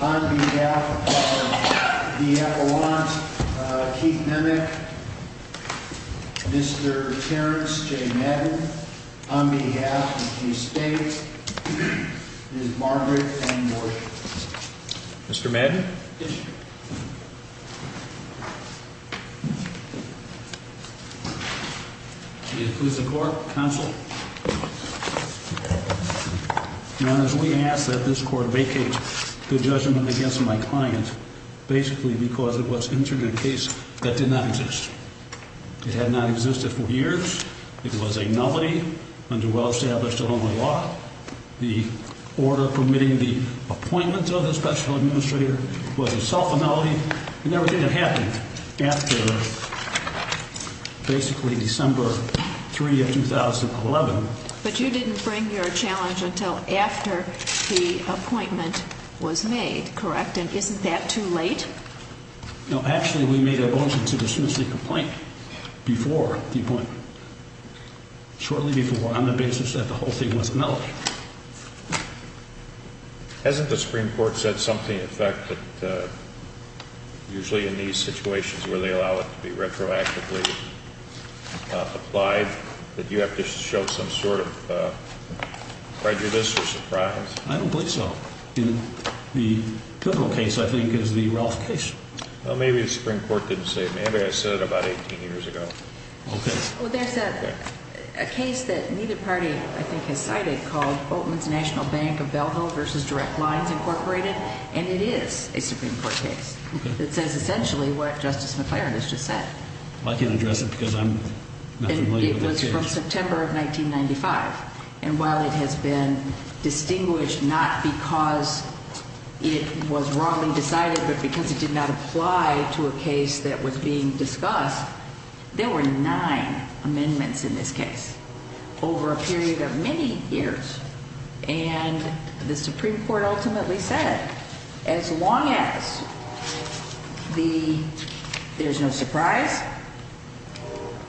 on behalf of the Avalanche, Keith Nemec, Mr. Terrence J. Madden, on behalf of the estate, Ms. Margaret M. Gorsh. Mr. Madden. Please, the court counsel. As we ask that this court vacate the judgment against my client, basically because it was entering a case that did not exist. It had not existed for years. It was a nobody under well-established law, the order permitting the appointment of the special administrator was a self-annulment, and everything that happened after basically December 3 of 2011. But you didn't bring your challenge until after the appointment was made, correct? And isn't that too late? No, actually, we made a motion to dismiss the complaint before the appointment, shortly before, on the basis that the whole thing was nullified. Hasn't the Supreme Court said something, in fact, that usually in these situations where they allow it to be retroactively applied, that you have to show some sort of prejudice or surprise? I don't believe so. The criminal case, I think, is the Ralph case. Well, maybe the Supreme Court didn't say it. Maybe I said it about 18 years ago. Well, there's a case that neither party, I think, has cited called Oatman's National Bank of Belleville v. Direct Lines, Incorporated, and it is a Supreme Court case that says essentially what Justice McClaren has just said. Well, I can address it because I'm not familiar with the case. It was from September of 1995, and while it has been distinguished not because it was wrongly decided but because it did not apply to a case that was being discussed, there were nine amendments in this case over a period of many years. And the Supreme Court ultimately said as long as there's no surprise,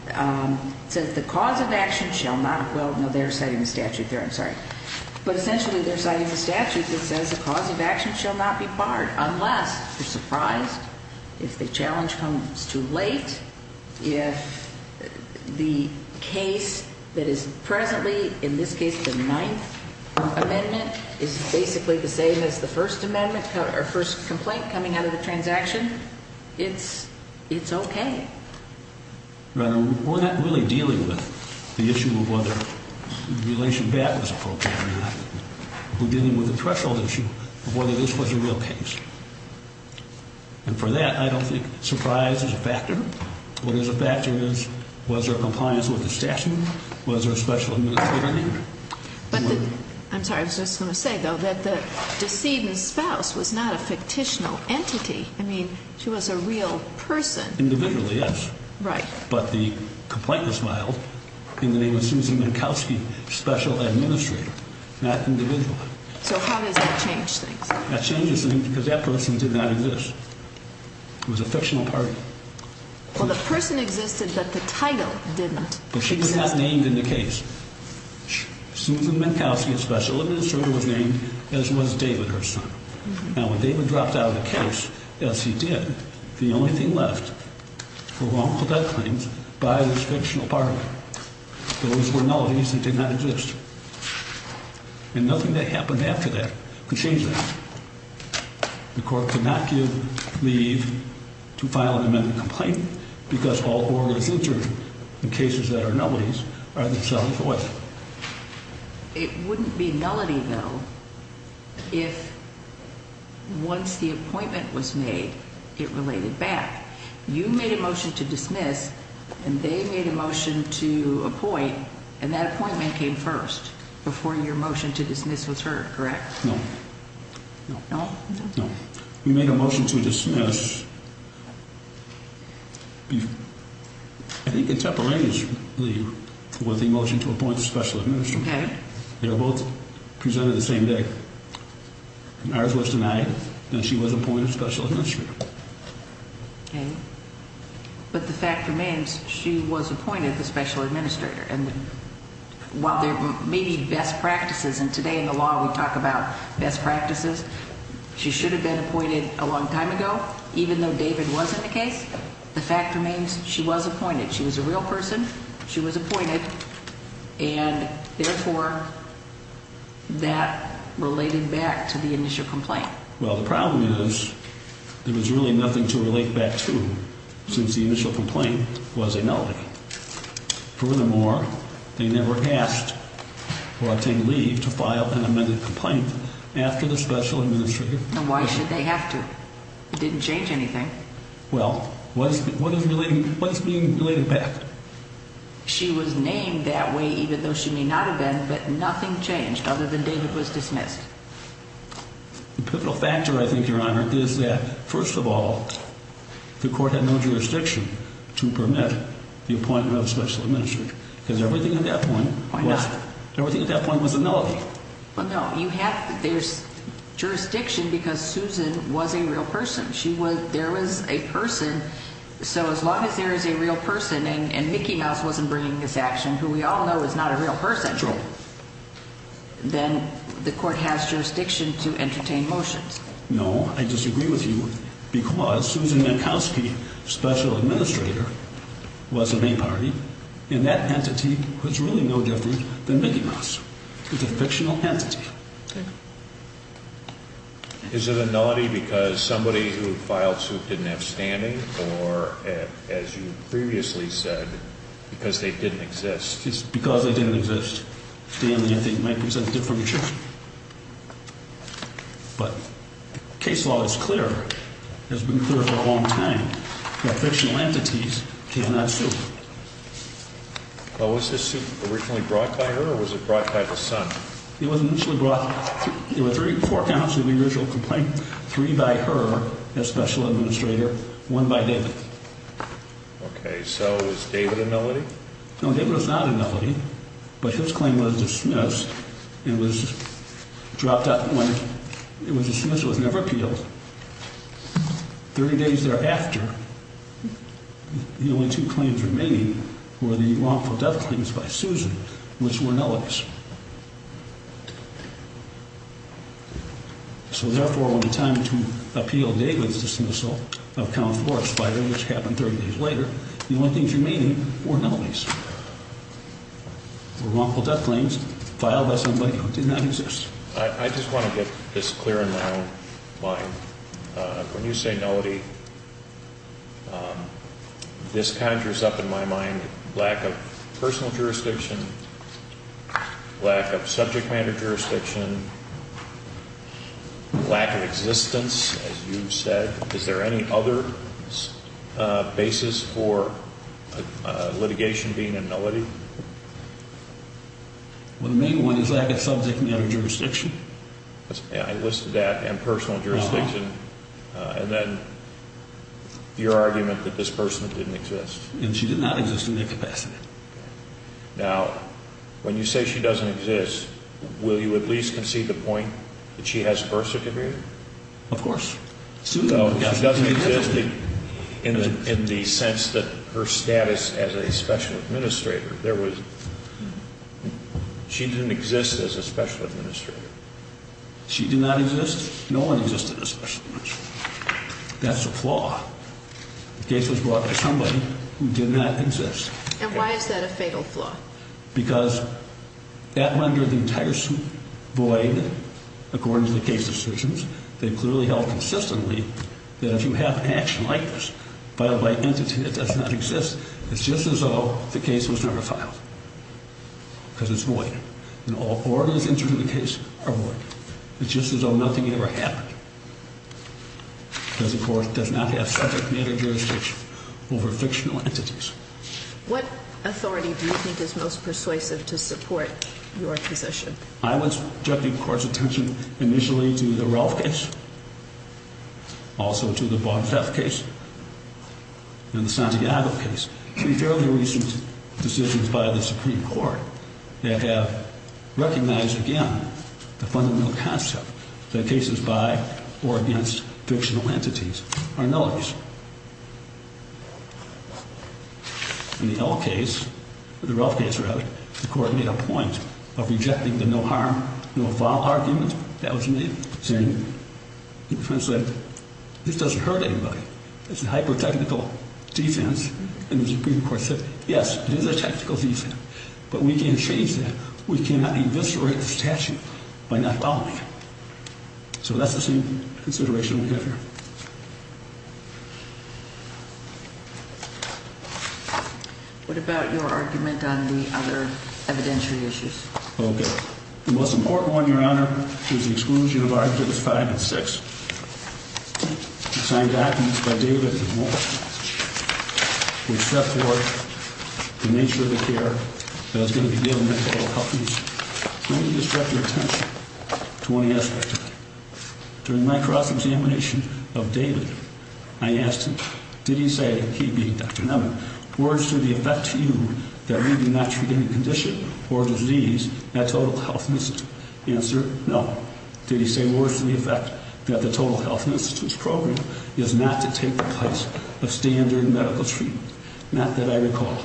it says the cause of action shall not, well, no, they're citing a statute there, I'm sorry, but essentially they're citing a statute that says the cause of action shall not be barred unless you're surprised. If the challenge comes too late, if the case that is presently, in this case the ninth amendment, is basically the same as the first amendment or first complaint coming out of the transaction, it's okay. We're not really dealing with the issue of whether the relation back was appropriate or not. We're dealing with the threshold issue of whether this was a real case. And for that, I don't think surprise is a factor. What is a factor is was there compliance with the statute? Was there a special administrator? I'm sorry, I was just going to say, though, that the decedent's spouse was not a fictitional entity. I mean, she was a real person. Individually, yes. Right. But the complaint was filed in the name of Susan Minkowski, special administrator, not individually. So how does that change things? That changes things because that person did not exist. It was a fictional party. Well, the person existed, but the title did not exist. But she was not named in the case. Susan Minkowski, a special administrator, was named, as was David, her son. Now, when David dropped out of the case, as he did, the only thing left were wrongful death claims by this fictional party. Those were nullities and did not exist. And nothing that happened after that could change that. The court could not give leave to file an amendment complaint because all orders entered in cases that are nullities are themselves void. It wouldn't be nullity, though, if once the appointment was made, it related back. You made a motion to dismiss, and they made a motion to appoint, and that appointment came first before your motion to dismiss was heard, correct? No. No? No. We made a motion to dismiss. I think in Tepper Lane's leave was the motion to appoint a special administrator. Okay. They were both presented the same day. Ours was denied, and she was appointed special administrator. Okay. But the fact remains, she was appointed the special administrator. And while there may be best practices, and today in the law we talk about best practices, she should have been appointed a long time ago. Even though David wasn't the case, the fact remains, she was appointed. She was a real person. She was appointed. And, therefore, that related back to the initial complaint. Well, the problem is there was really nothing to relate back to since the initial complaint was a nullity. Furthermore, they never asked or obtained leave to file an amended complaint after the special administrator. And why should they have to? It didn't change anything. Well, what is being related back? She was named that way even though she may not have been, but nothing changed other than David was dismissed. The pivotal factor, I think, Your Honor, is that, first of all, the court had no jurisdiction to permit the appointment of a special administrator. Because everything at that point was a nullity. Well, no. There's jurisdiction because Susan was a real person. There was a person. So as long as there is a real person and Mickey Mouse wasn't bringing this action, who we all know is not a real person, Then the court has jurisdiction to entertain motions. No. I disagree with you because Susan Minkowski, special administrator, was a main party, and that entity was really no different than Mickey Mouse. It's a fictional entity. Is it a nullity because somebody who filed suit didn't have standing or, as you previously said, because they didn't exist? It's because they didn't exist. Stanley, I think, might present a different truth. But case law is clear, has been clear for a long time, that fictional entities cannot sue. Was this suit originally brought by her or was it brought by the son? It was initially brought. There were three forecounts of the original complaint, three by her as special administrator, one by David. Okay. So is David a nullity? No, David was not a nullity, but his claim was dismissed and was dropped out. When it was dismissed, it was never appealed. Thirty days thereafter, the only two claims remaining were the wrongful death claims by Susan, which were nullities. So, therefore, when the time to appeal David's dismissal of Count Forrest's filing, which happened 30 days later, the only things remaining were nullities, were wrongful death claims filed by somebody who did not exist. I just want to get this clear in my own mind. When you say nullity, this conjures up in my mind lack of personal jurisdiction, lack of subject matter jurisdiction, lack of existence, as you said. Is there any other basis for litigation being a nullity? Well, the main one is lack of subject matter jurisdiction. I listed that, and personal jurisdiction, and then your argument that this person didn't exist. And she did not exist in that capacity. Now, when you say she doesn't exist, will you at least concede the point that she has birth certificate? Of course. She doesn't exist in the sense that her status as a special administrator. She didn't exist as a special administrator. She did not exist? No one existed as a special administrator. That's a flaw. The case was brought to somebody who did not exist. And why is that a fatal flaw? Because that rendered the entire suit void according to the case decisions. They clearly held consistently that if you have an action like this filed by an entity that does not exist, it's just as though the case was never filed. Because it's void. And all ordinances in the case are void. It's just as though nothing ever happened. Because the court does not have subject matter jurisdiction over fictional entities. What authority do you think is most persuasive to support your position? I would subject the court's attention initially to the Ralph case. Also to the Bob Feff case. And the Santiago case. Three fairly recent decisions by the Supreme Court that have recognized, again, the fundamental concept that cases by or against fictional entities are nullities. In the L case, or the Ralph case, rather, the court made a point of rejecting the no harm, no foul argument that was made. Saying, the defense said, this doesn't hurt anybody. It's a hyper-technical defense. And the Supreme Court said, yes, it is a technical defense. But we can't change that. We cannot eviscerate the statute by not following it. So that's the same consideration we have here. What about your argument on the other evidentiary issues? Okay. The most important one, Your Honor, was the exclusion of arguments five and six. Signed documents by David and Walt. Which set forth the nature of the care that was going to be given to all companies. I'm going to distract your attention to one aspect of it. During my cross-examination of David, I asked him, did he say, he being Dr. Nevin, words to the effect to you that we do not treat any condition or disease at Total Health Institute? The answer, no. Did he say words to the effect that the Total Health Institute's program is not to take the place of standard medical treatment? Not that I recall.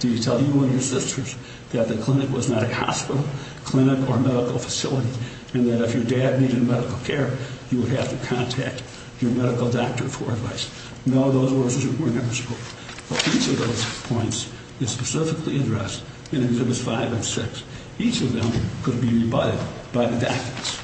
Did he tell you or your sisters that the clinic was not a hospital, clinic, or medical facility? And that if your dad needed medical care, you would have to contact your medical doctor for advice? No, those words were never spoken. But each of those points is specifically addressed in Exhibits 5 and 6. Each of them could be rebutted by the doctors.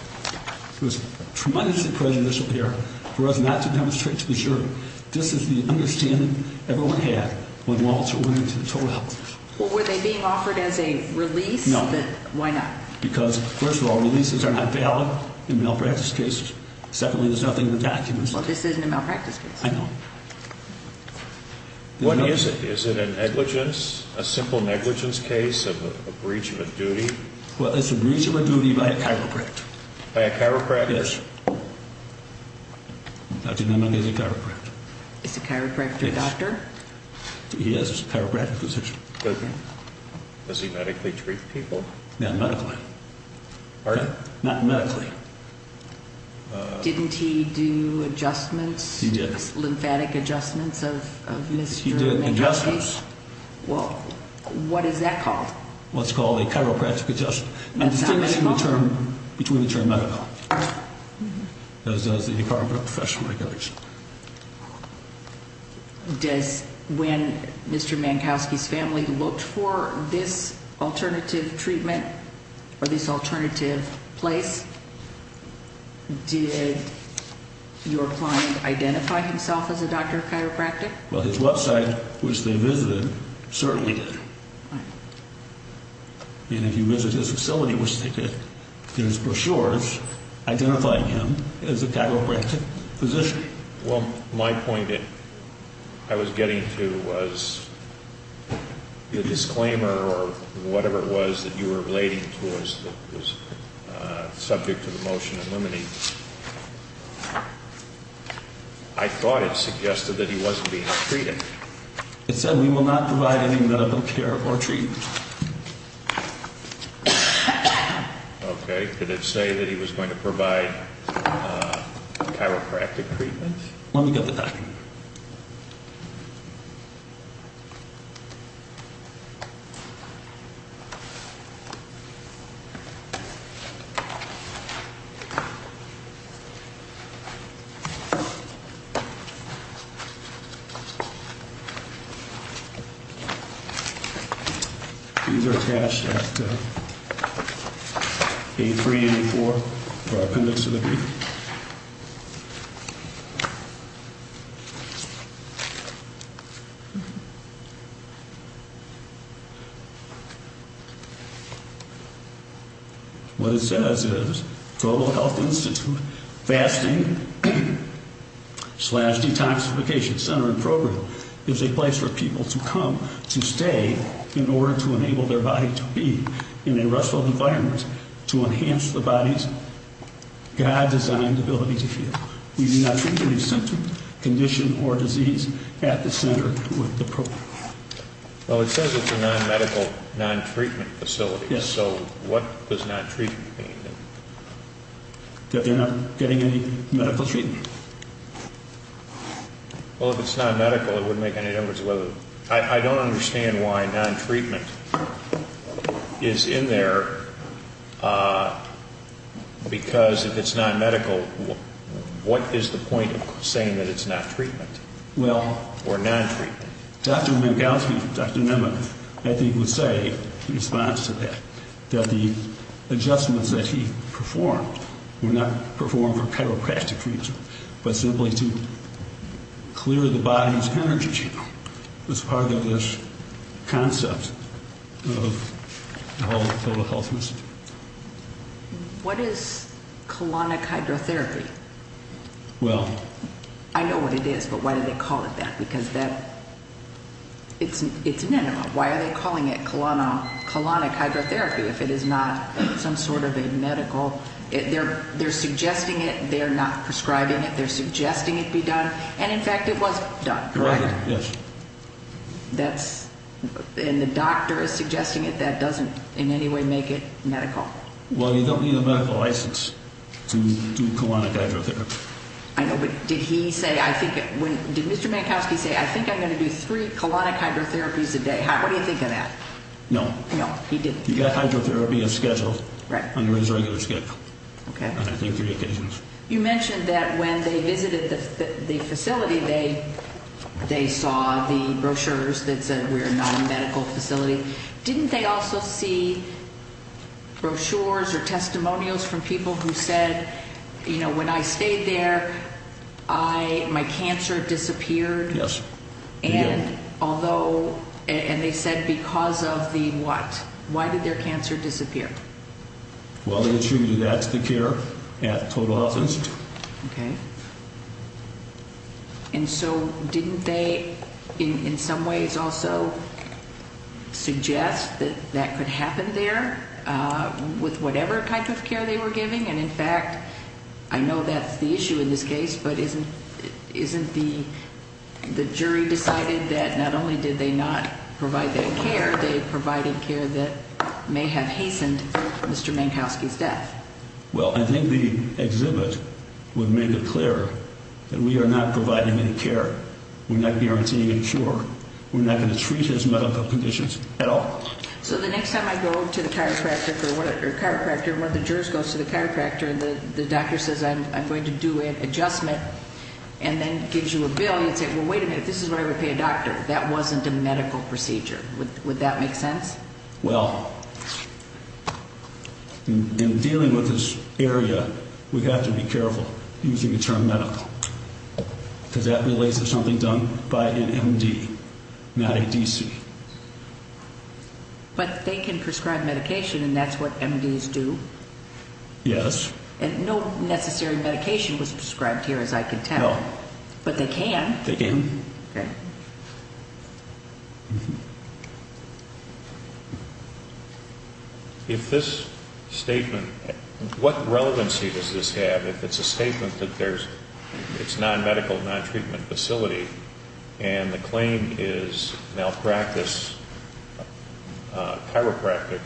It was tremendously prejudicial of him for us not to demonstrate to the jury. This is the understanding everyone had when Walter went into the Total Health Institute. Were they being offered as a release? No. Why not? Because, first of all, releases are not valid in malpractice cases. Secondly, there's nothing in the documents. Well, this isn't a malpractice case. I know. What is it? Is it a negligence, a simple negligence case, a breach of a duty? Well, it's a breach of a duty by a chiropractor. By a chiropractor? Yes. Dr. Neumann is a chiropractor. Is the chiropractor a doctor? Yes, he has a chiropractic position. Okay. Does he medically treat people? Not medically. Pardon? Not medically. Didn't he do adjustments? He did. Lymphatic adjustments of Mr. Neumann? He did adjustments. Well, what is that called? What's called a chiropractic adjustment. That's not medical? Between the term medical. As does the department of professional regulation. When Mr. Mankowski's family looked for this alternative treatment or this alternative place, did your client identify himself as a doctor of chiropractic? Well, his website, which they visited, certainly did. And if you visit his facility, which they did, there's brochures identifying him as a chiropractic physician. Well, my point that I was getting to was the disclaimer or whatever it was that you were relating to was subject to the motion eliminating. I thought it suggested that he wasn't being treated. It said we will not provide any medical care or treatment. Okay. Did it say that he was going to provide chiropractic treatment? Let me get the document. These are attached at A3 and A4 for our appendix of the brief. What it says is Global Health Institute Fasting slash Detoxification Center and Program is a place for people to come to stay in order to enable their body to be in a restful environment to enhance the body's God-designed ability to heal. We do not treat any symptom, condition, or disease at the center with the program. Well, it says it's a non-medical, non-treatment facility. Yes. So what does non-treatment mean? That they're not getting any medical treatment. Well, if it's non-medical, it wouldn't make any difference. I don't understand why non-treatment is in there because if it's non-medical, what is the point of saying that it's not treatment or non-treatment? Well, Dr. Minkowski, Dr. Nema, I think would say in response to that, that the adjustments that he performed were not performed for chiropractic treatment but simply to clear the body's energy as part of this concept of total health. What is colonic hydrotherapy? Well... I know what it is, but why do they call it that? Because it's an enema. Why are they calling it colonic hydrotherapy if it is not some sort of a medical... They're suggesting it, they're not prescribing it, they're suggesting it be done, and in fact it was done, correct? Correct, yes. That's... and the doctor is suggesting it, that doesn't in any way make it medical. Well, you don't need a medical license to do colonic hydrotherapy. I know, but did he say... did Mr. Minkowski say, I think I'm going to do three colonic hydrotherapies a day? What do you think of that? No. No, he didn't. You've got hydrotherapy on schedule. Right. On his regular schedule. Okay. And I think three occasions. You mentioned that when they visited the facility, they saw the brochures that said we're not a medical facility. Didn't they also see brochures or testimonials from people who said, you know, when I stayed there, I... my cancer disappeared? Yes. And although... and they said because of the what? Why did their cancer disappear? Well, they assumed that's the care at Total Health Institute. Okay. And so didn't they in some ways also suggest that that could happen there with whatever type of care they were giving? And, in fact, I know that's the issue in this case, but isn't the jury decided that not only did they not provide that care, they provided care that may have hastened Mr. Mankowski's death? Well, I think the exhibit would make it clear that we are not providing any care. We're not guaranteeing a cure. We're not going to treat his medical conditions at all. So the next time I go to the chiropractor, or the chiropractor or one of the jurors goes to the chiropractor, and the doctor says, I'm going to do an adjustment, and then gives you a bill, you'd say, well, wait a minute, this is what I would pay a doctor. That wasn't a medical procedure. Would that make sense? Well, in dealing with this area, we have to be careful using the term medical because that relates to something done by an M.D., not a D.C. But they can prescribe medication, and that's what M.D.s do. Yes. And no necessary medication was prescribed here, as I can tell. No. But they can. They can. Okay. If this statement, what relevancy does this have? If it's a statement that it's non-medical, non-treatment facility, and the claim is malpractice chiropractic,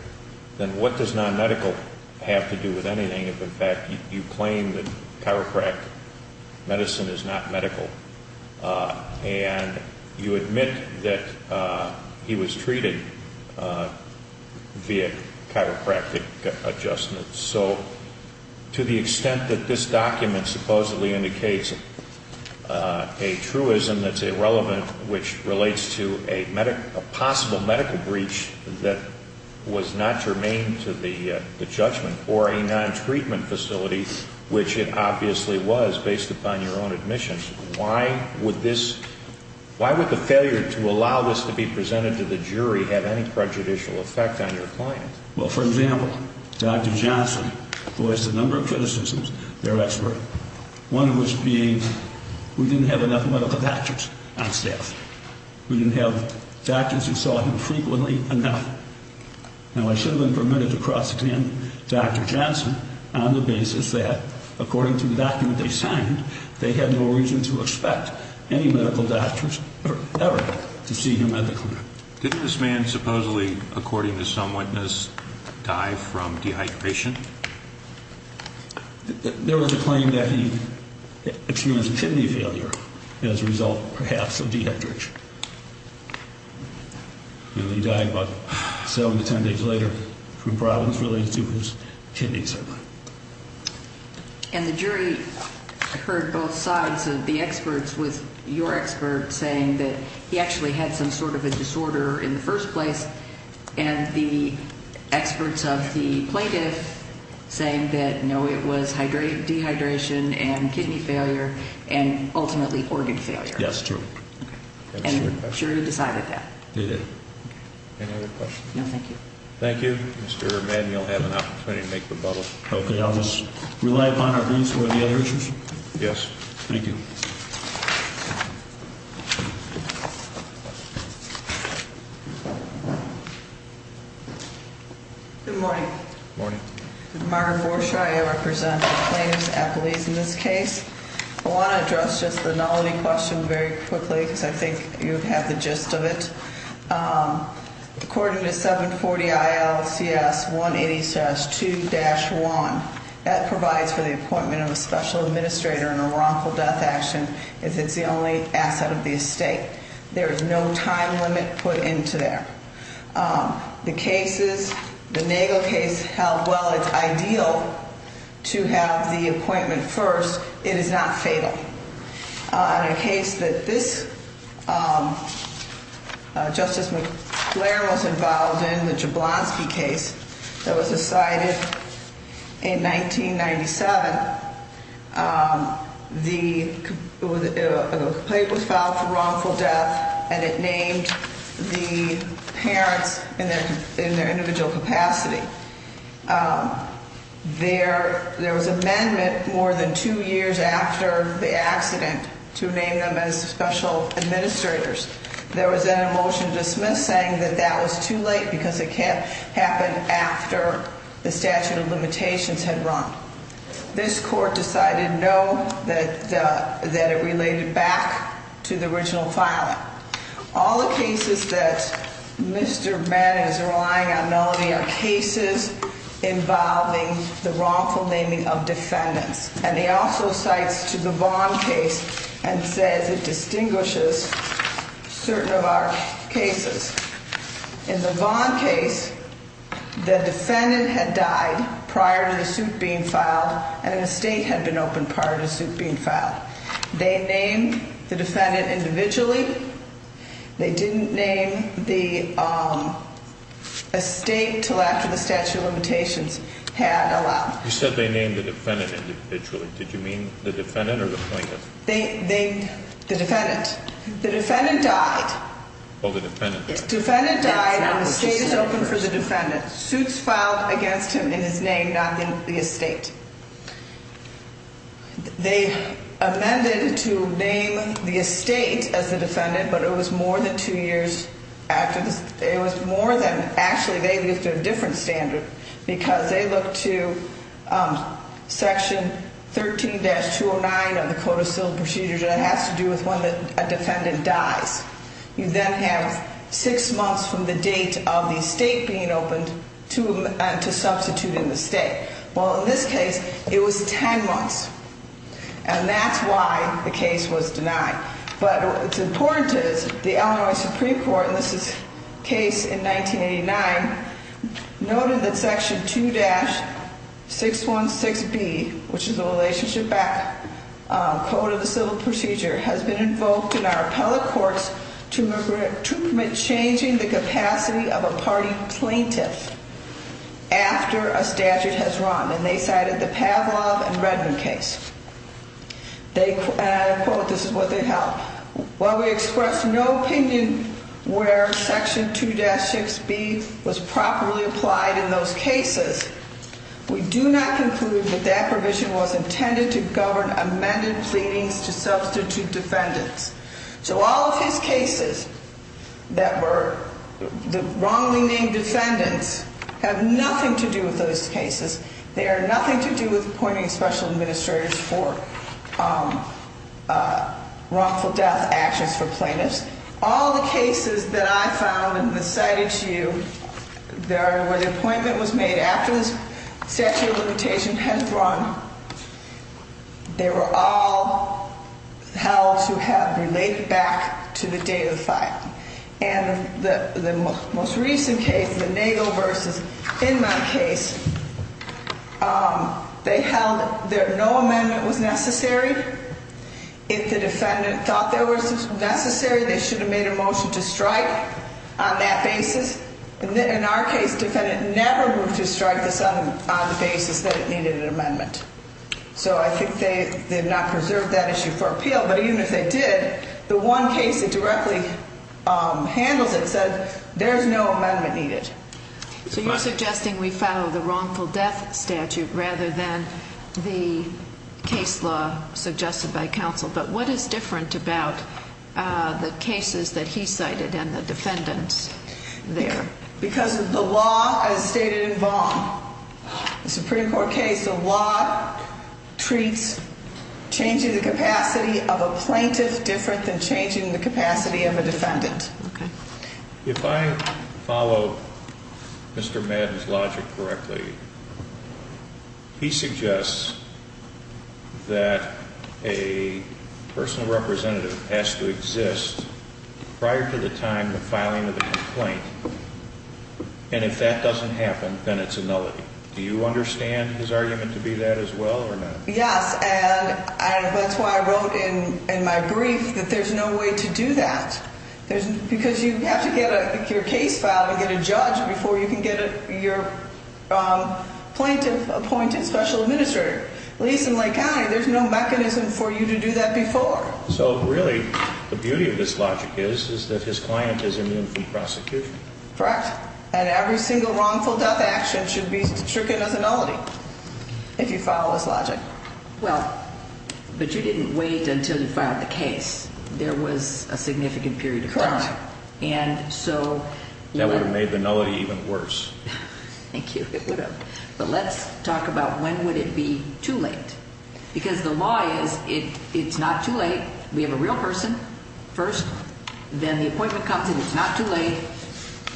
then what does non-medical have to do with anything if, in fact, you claim that chiropractic medicine is not medical and you admit that he was treated via chiropractic adjustments? So to the extent that this document supposedly indicates a truism that's irrelevant, which relates to a possible medical breach that was not germane to the judgment or a non-treatment facility, which it obviously was based upon your own admission, why would this ñ why would the failure to allow this to be presented to the jury have any prejudicial effect on your client? Well, for example, Dr. Johnson voiced a number of criticisms, their expert, one of which being we didn't have enough medical doctors on staff. We didn't have doctors who saw him frequently enough. Now, I should have been permitted to cross-examine Dr. Johnson on the basis that, according to the document they signed, they had no reason to expect any medical doctors ever to see him at the clinic. Didn't this man supposedly, according to some witness, die from dehydration? There was a claim that he experienced kidney failure as a result, perhaps, of dehydration. He died about seven to ten days later from problems related to his kidneys. And the jury heard both sides of the experts, with your expert saying that he actually had some sort of a disorder in the first place, and the experts of the plaintiff saying that, no, it was dehydration and kidney failure and ultimately organ failure. Yes, true. And the jury decided that. They did. Any other questions? No, thank you. Thank you. Mr. Madden, you'll have an opportunity to make the bubble. Okay. I'll just rely upon our views on the other issues. Yes. Thank you. Good morning. Good morning. Margaret Forshaw. I represent the plaintiff's apologies in this case. I want to address just the nullity question very quickly because I think you have the gist of it. According to 740 ILCS 180-2-1, that provides for the appointment of a special administrator in a wrongful death action if it's the only asset of the estate. There is no time limit put into there. The cases, the Nagel case held well. It's ideal to have the appointment first. It is not fatal. In a case that this Justice McClare was involved in, the Jablonski case that was decided in 1997, the complaint was filed for wrongful death, and it named the parents in their individual capacity. There was an amendment more than two years after the accident to name them as special administrators. There was then a motion to dismiss saying that that was too late because it can't happen after the statute of limitations had run. This court decided no, that it related back to the original filing. All the cases that Mr. Bannon is relying on, Melanie, are cases involving the wrongful naming of defendants. And he also cites to the Vaughn case and says it distinguishes certain of our cases. In the Vaughn case, the defendant had died prior to the suit being filed, and an estate had been opened prior to the suit being filed. They named the defendant individually. They didn't name the estate until after the statute of limitations had allowed. You said they named the defendant individually. Did you mean the defendant or the plaintiff? The defendant. The defendant died. Oh, the defendant. The defendant died, and the estate is open for the defendant. Suits filed against him in his name, not in the estate. They amended to name the estate as the defendant, but it was more than two years after. It was more than, actually, they used a different standard because they look to Section 13-209 of the Code of Civil Procedures, and it has to do with when a defendant dies. You then have six months from the date of the estate being opened to substitute in the state. Well, in this case, it was ten months, and that's why the case was denied. But what's important is the Illinois Supreme Court, and this is case in 1989, noted that Section 2-616B, which is a relationship back code of the civil procedure, has been invoked in our appellate courts to commit changing the capacity of a party plaintiff after a statute has run, and they cited the Pavlov and Redmond case. And I quote, this is what they held. While we express no opinion where Section 2-6B was properly applied in those cases, we do not conclude that that provision was intended to govern amended pleadings to substitute defendants. So all of his cases that were wrongly named defendants have nothing to do with those cases. They are nothing to do with appointing special administrators for wrongful death actions for plaintiffs. All the cases that I found and cited to you where the appointment was made after the statute of limitation had run, they were all held to have related back to the date of the filing. And the most recent case, the Nagel versus, in my case, they held that no amendment was necessary. If the defendant thought there was necessary, they should have made a motion to strike on that basis. In our case, the defendant never moved to strike on the basis that it needed an amendment. So I think they have not preserved that issue for appeal. But even if they did, the one case that directly handles it said there is no amendment needed. So you're suggesting we follow the wrongful death statute rather than the case law suggested by counsel. But what is different about the cases that he cited and the defendants there? Because of the law as stated in Vaughan, the Supreme Court case, the law treats changing the capacity of a plaintiff different than changing the capacity of a defendant. If I follow Mr. Madden's logic correctly, he suggests that a personal representative has to exist prior to the time of filing of the complaint. And if that doesn't happen, then it's a nullity. Do you understand his argument to be that as well or not? Yes, and that's why I wrote in my brief that there's no way to do that. Because you have to get your case filed and get a judge before you can get your plaintiff appointed special administrator. At least in Lake County, there's no mechanism for you to do that before. So really, the beauty of this logic is that his client is immune from prosecution. Correct. And every single wrongful death action should be stricken as a nullity if you follow this logic. Well, but you didn't wait until you filed the case. There was a significant period of time. Correct. And so. That would have made the nullity even worse. Thank you. It would have. But let's talk about when would it be too late. Because the law is it's not too late. We have a real person first. Then the appointment comes and it's not too late.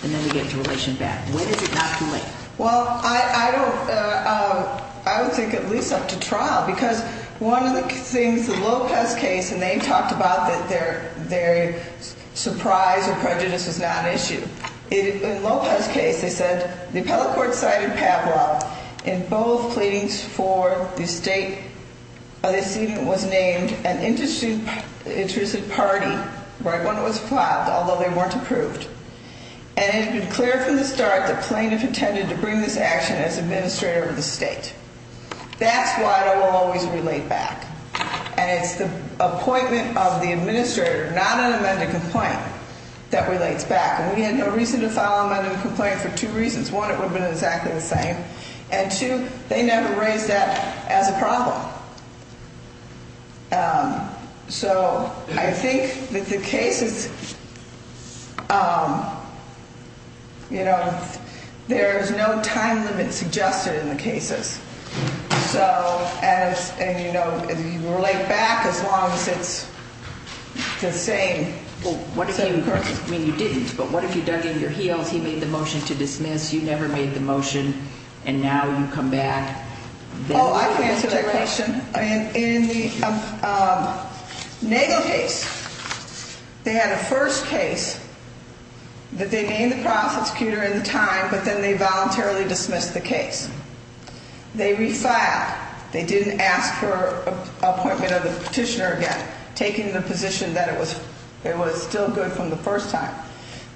And then we get to relation back. When is it not too late? Well, I don't I don't think at least up to trial, because one of the things the Lopez case and they talked about that their their surprise or prejudice is not an issue. In Lopez's case, they said the appellate court cited Pavlov in both pleadings for the state. But it seemed it was named an interesting interested party when it was filed, although they weren't approved. And it's been clear from the start that plaintiff intended to bring this action as administrator of the state. That's why I will always relate back. And it's the appointment of the administrator, not an amended complaint that relates back. And we had no reason to file an amended complaint for two reasons. One, it would have been exactly the same. And two, they never raised that as a problem. So I think that the cases. You know, there is no time limit suggested in the cases. So as you know, you relate back as long as it's the same. Well, what do you say? Of course, I mean, you didn't. But what if you dug in your heels? He made the motion to dismiss. You never made the motion. And now you come back. Oh, I can answer that question. And in the Nagle case, they had a first case that they named the prosecutor at the time. But then they voluntarily dismissed the case. They refiled. They didn't ask for appointment of the petitioner again, taking the position that it was it was still good from the first time.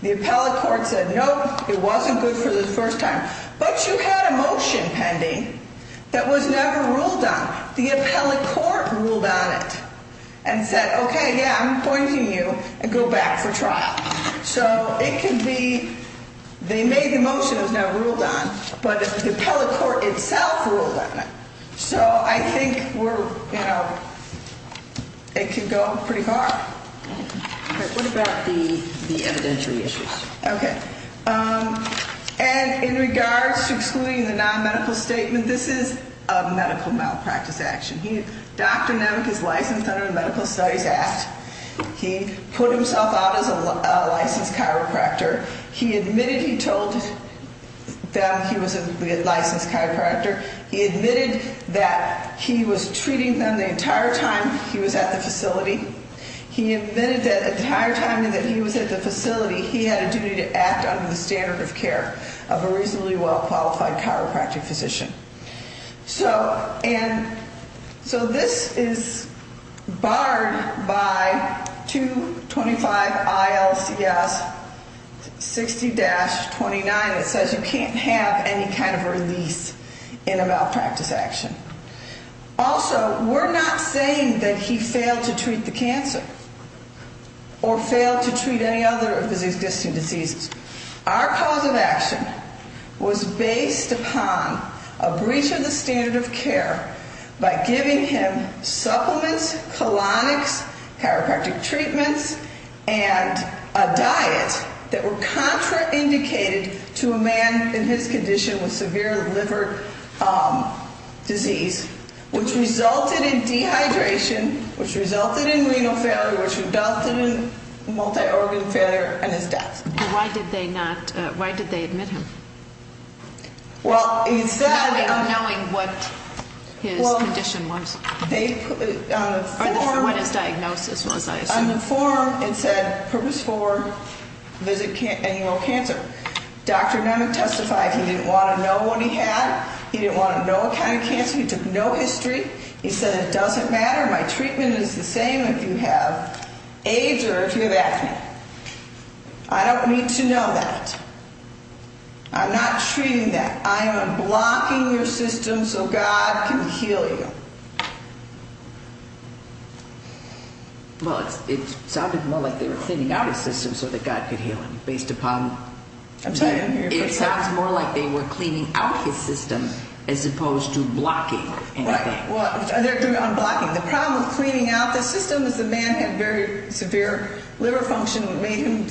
The appellate court said, nope, it wasn't good for the first time. But you had a motion pending that was never ruled on. The appellate court ruled on it and said, okay, yeah, I'm appointing you and go back for trial. So it can be they made the motion that was never ruled on. But the appellate court itself ruled on it. So I think we're, you know, it can go pretty far. What about the evidentiary issues? Okay. And in regards to excluding the non-medical statement, this is a medical malpractice action. Dr. Nemec is licensed under the Medical Studies Act. He put himself out as a licensed chiropractor. He admitted he told them he was a licensed chiropractor. He admitted that he was treating them the entire time he was at the facility. He admitted that the entire time that he was at the facility, he had a duty to act under the standard of care of a reasonably well-qualified chiropractic physician. So this is barred by 225 ILCS 60-29. It says you can't have any kind of release in a malpractice action. Also, we're not saying that he failed to treat the cancer or failed to treat any other of his existing diseases. Our cause of action was based upon a breach of the standard of care by giving him supplements, colonics, chiropractic treatments, and a diet that were contraindicated to a man in his condition with severe liver disease, which resulted in dehydration, which resulted in renal failure, which resulted in multi-organ failure, and his death. Why did they not? Why did they admit him? Well, he said... Knowing what his condition was. On a form... What his diagnosis was, I assume. On the form, it said, Purpose 4, visit annual cancer. Dr. Nunnick testified he didn't want to know what he had. He didn't want to know what kind of cancer. He took no history. He said it doesn't matter. My treatment is the same if you have AIDS or if you have acne. I don't need to know that. I'm not treating that. I am unblocking your system so God can heal you. Well, it sounded more like they were thinning out his system so that God could heal him based upon... I'm sorry, I didn't hear your first part. It sounds more like they were cleaning out his system as opposed to blocking anything. Right. Well, they're doing unblocking. The problem with cleaning out the system is the man had very severe liver function that made him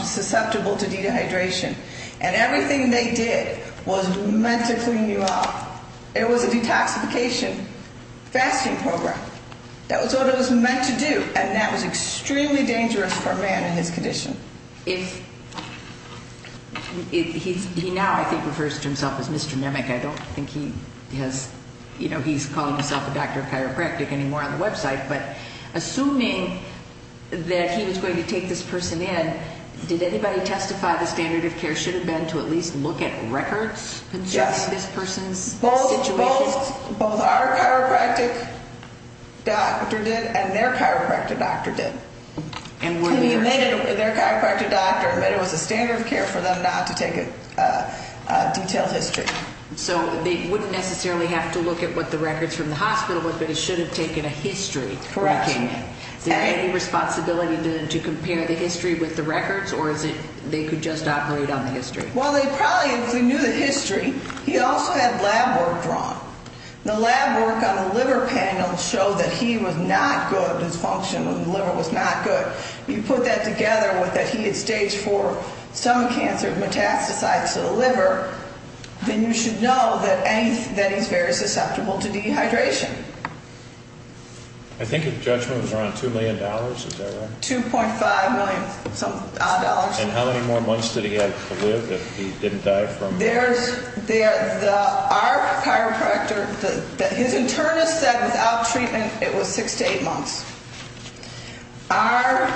susceptible to dehydration, and everything they did was meant to clean you out. It was a detoxification fasting program. That was what it was meant to do, and that was extremely dangerous for a man in his condition. He now, I think, refers to himself as Mr. Nunnick. I don't think he has, you know, he's calling himself a doctor of chiropractic anymore on the website, but assuming that he was going to take this person in, did anybody testify the standard of care should have been to at least look at records concerning this person's situation? Yes. Both our chiropractic doctor did and their chiropractic doctor did. And what did their say? Their chiropractic doctor admitted it was a standard of care for them not to take a detailed history. So they wouldn't necessarily have to look at what the records from the hospital was, but it should have taken a history. Correct. Is there any responsibility to compare the history with the records, or is it they could just operate on the history? Well, they probably knew the history. He also had lab work drawn. The lab work on the liver panel showed that he was not good, his function in the liver was not good. But you put that together with that he had stage four stomach cancer, metastasized to the liver, then you should know that he's very susceptible to dehydration. I think his judgment was around $2 million, is that right? $2.5 million-odd. And how many more months did he have to live if he didn't die from it? Our chiropractor, his internist said without treatment it was six to eight months. Our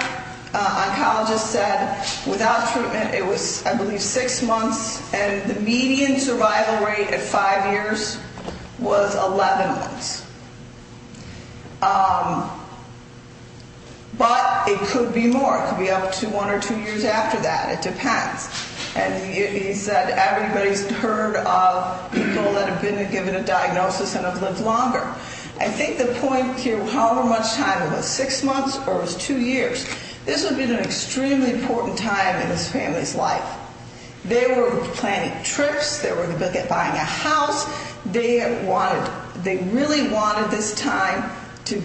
oncologist said without treatment it was, I believe, six months, and the median survival rate at five years was 11 months. But it could be more. It could be up to one or two years after that. It depends. And he said everybody's heard of people that have been given a diagnosis and have lived longer. I think the point here, however much time it was, six months or it was two years, this would have been an extremely important time in his family's life. They were planning trips. They were looking at buying a house. They really wanted this time to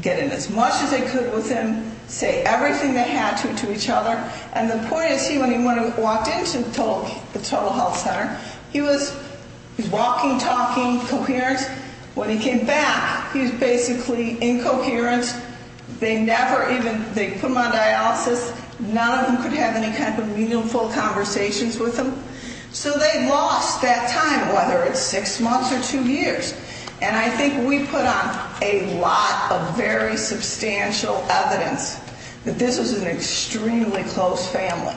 get in as much as they could with him, say everything they had to to each other. And the point is he, when he walked into the total health center, he was walking, talking, coherent. When he came back, he was basically incoherent. They never even, they put him on dialysis. None of them could have any kind of meaningful conversations with him. So they lost that time, whether it's six months or two years. And I think we put on a lot of very substantial evidence that this was an extremely close family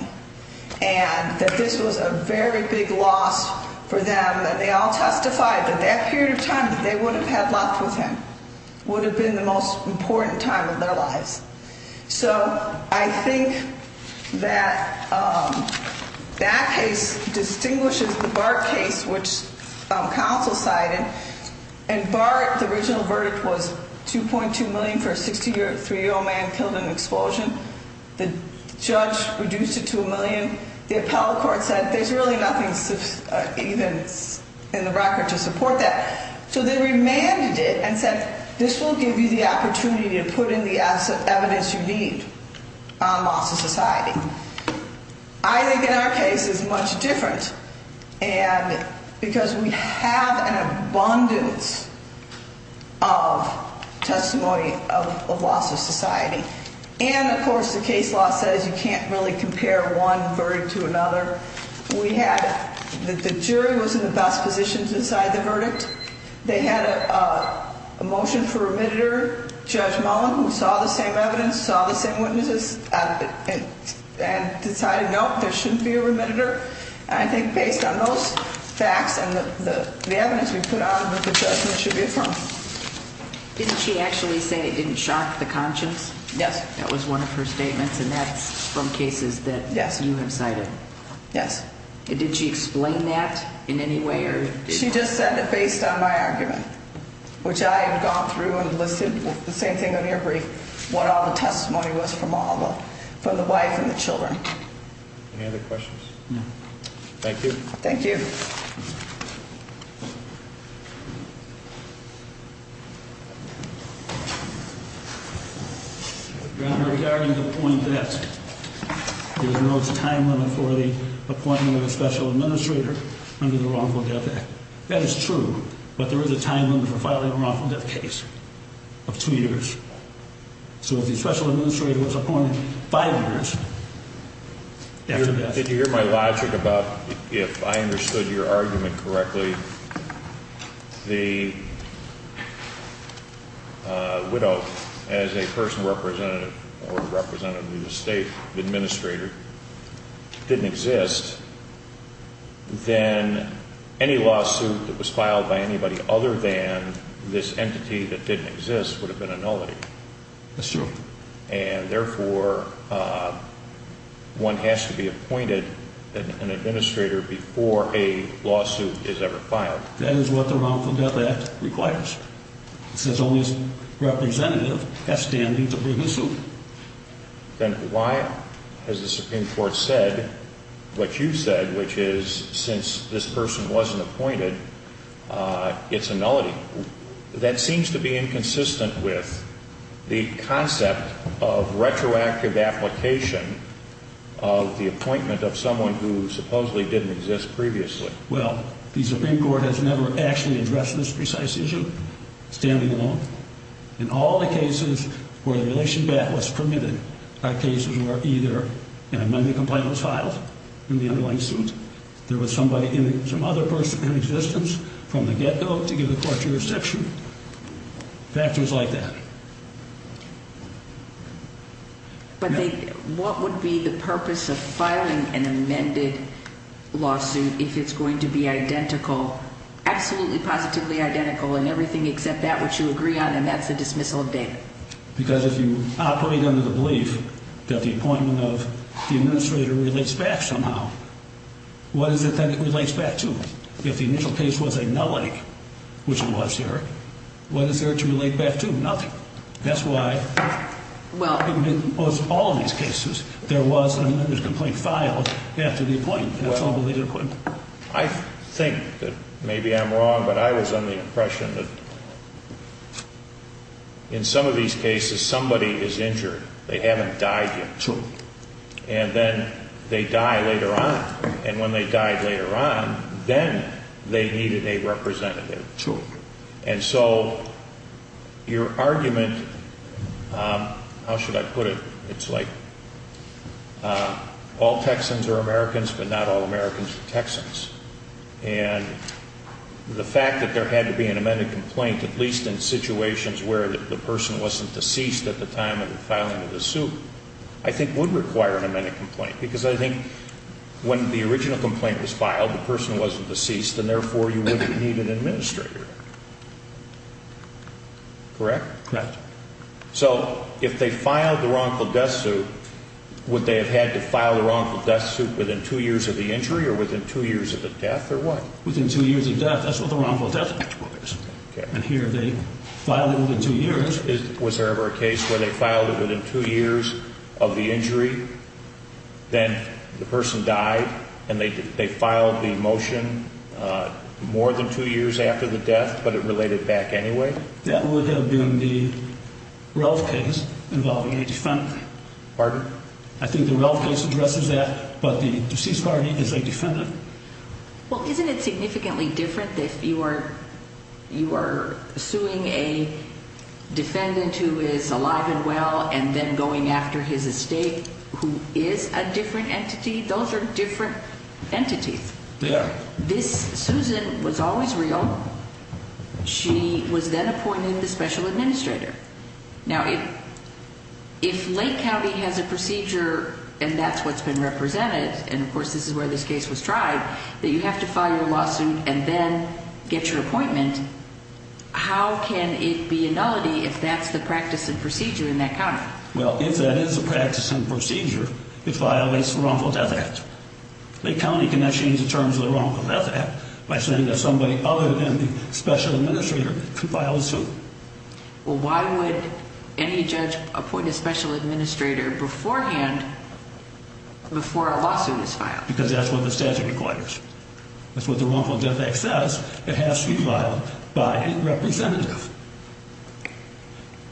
and that this was a very big loss for them. They all testified that that period of time that they would have had left with him would have been the most important time of their lives. So I think that that case distinguishes the Bart case, which counsel cited. And Bart, the original verdict was $2.2 million for a 63-year-old man killed in an explosion. The judge reduced it to a million. The appellate court said there's really nothing even in the record to support that. So they remanded it and said, this will give you the opportunity to put in the evidence you need on loss of society. I think in our case it's much different because we have an abundance of testimony of loss of society. And, of course, the case law says you can't really compare one verdict to another. We had the jury was in the best position to decide the verdict. They had a motion for remediator, Judge Mullen, who saw the same evidence, saw the same witnesses, and decided, no, there shouldn't be a remediator. And I think based on those facts and the evidence we put on, the judgment should be affirmed. Didn't she actually say it didn't shock the conscience? Yes. That was one of her statements, and that's from cases that you have cited. Yes. Did she explain that in any way? She just said that based on my argument, which I have gone through and listed the same thing on your brief, what all the testimony was from the wife and the children. Any other questions? No. Thank you. Thank you. Your Honor, regarding the point that there's no time limit for the appointment of a special administrator under the Wrongful Death Act, that is true, but there is a time limit for filing a wrongful death case of two years. So if the special administrator was appointed five years after death. Did you hear my logic about if I understood your argument correctly, the widow as a person representative or representative of the state administrator didn't exist, then any lawsuit that was filed by anybody other than this entity that didn't exist would have been a nullity. That's true. And, therefore, one has to be appointed an administrator before a lawsuit is ever filed. That is what the Wrongful Death Act requires. It says only a representative has standing to bring a suit. Then why has the Supreme Court said what you said, which is since this person wasn't appointed, it's a nullity? That seems to be inconsistent with the concept of retroactive application of the appointment of someone who supposedly didn't exist previously. Well, the Supreme Court has never actually addressed this precise issue, standing alone. In all the cases where the relation back was permitted, our cases were either an amendment complaint was filed in the underlying suit, there was some other person in existence from the get-go to give the court jurisdiction, factors like that. But what would be the purpose of filing an amended lawsuit if it's going to be identical, absolutely positively identical in everything except that which you agree on, and that's a dismissal of data? Because if you operate under the belief that the appointment of the administrator relates back somehow, what is it that it relates back to? If the initial case was a nullity, which it was here, what is there to relate back to? Nothing. That's why in most all of these cases there was an amended complaint filed after the appointment. I think that maybe I'm wrong, but I was under the impression that in some of these cases somebody is injured. They haven't died yet. True. And then they die later on, and when they die later on, then they needed a representative. True. And so your argument, how should I put it? It's like all Texans are Americans, but not all Americans are Texans. And the fact that there had to be an amended complaint, at least in situations where the person wasn't deceased at the time of the filing of the suit, I think would require an amended complaint because I think when the original complaint was filed, the person wasn't deceased, and therefore you wouldn't need an administrator. Correct? Correct. So if they filed the wrongful death suit, would they have had to file the wrongful death suit within two years of the injury or within two years of the death, or what? Within two years of death. That's what the wrongful death law is. And here they filed it within two years. Was there ever a case where they filed it within two years of the injury, then the person died, and they filed the motion more than two years after the death, but it related back anyway? That would have been the Ralph case involving a defendant. Pardon? I think the Ralph case addresses that, but the deceased party is a defendant. Well, isn't it significantly different if you are suing a defendant who is alive and well and then going after his estate who is a different entity? Those are different entities. Yeah. This Susan was always real. She was then appointed the special administrator. Now, if Lake County has a procedure and that's what's been represented, and of course this is where this case was tried, that you have to file your lawsuit and then get your appointment, how can it be a nullity if that's the practice and procedure in that county? Well, if that is the practice and procedure, it violates the Wrongful Death Act. Lake County cannot change the terms of the Wrongful Death Act by saying that somebody other than the special administrator can file a suit. Well, why would any judge appoint a special administrator beforehand before a lawsuit is filed? Because that's what the statute requires. That's what the Wrongful Death Act says. It has to be filed by a representative.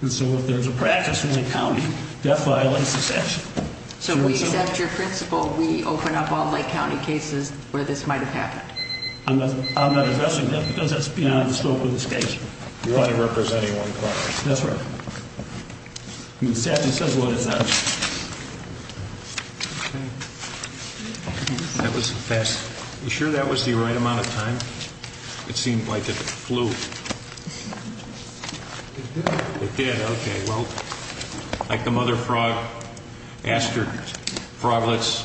And so if there's a practice in Lake County, that violates the statute. So we accept your principle. We open up all Lake County cases where this might have happened. I'm not addressing that because that's beyond the scope of this case. You want to represent anyone, correct? That's right. The statute says what it says. That was fast. You sure that was the right amount of time? It seemed like it flew. It did. It did, okay. Well, like the mother frog asked her froglets,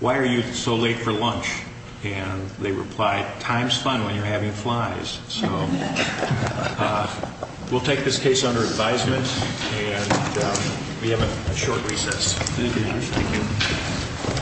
why are you so late for lunch? And they replied, time's fun when you're having flies. So we'll take this case under advisement. And we have a short recess. Thank you.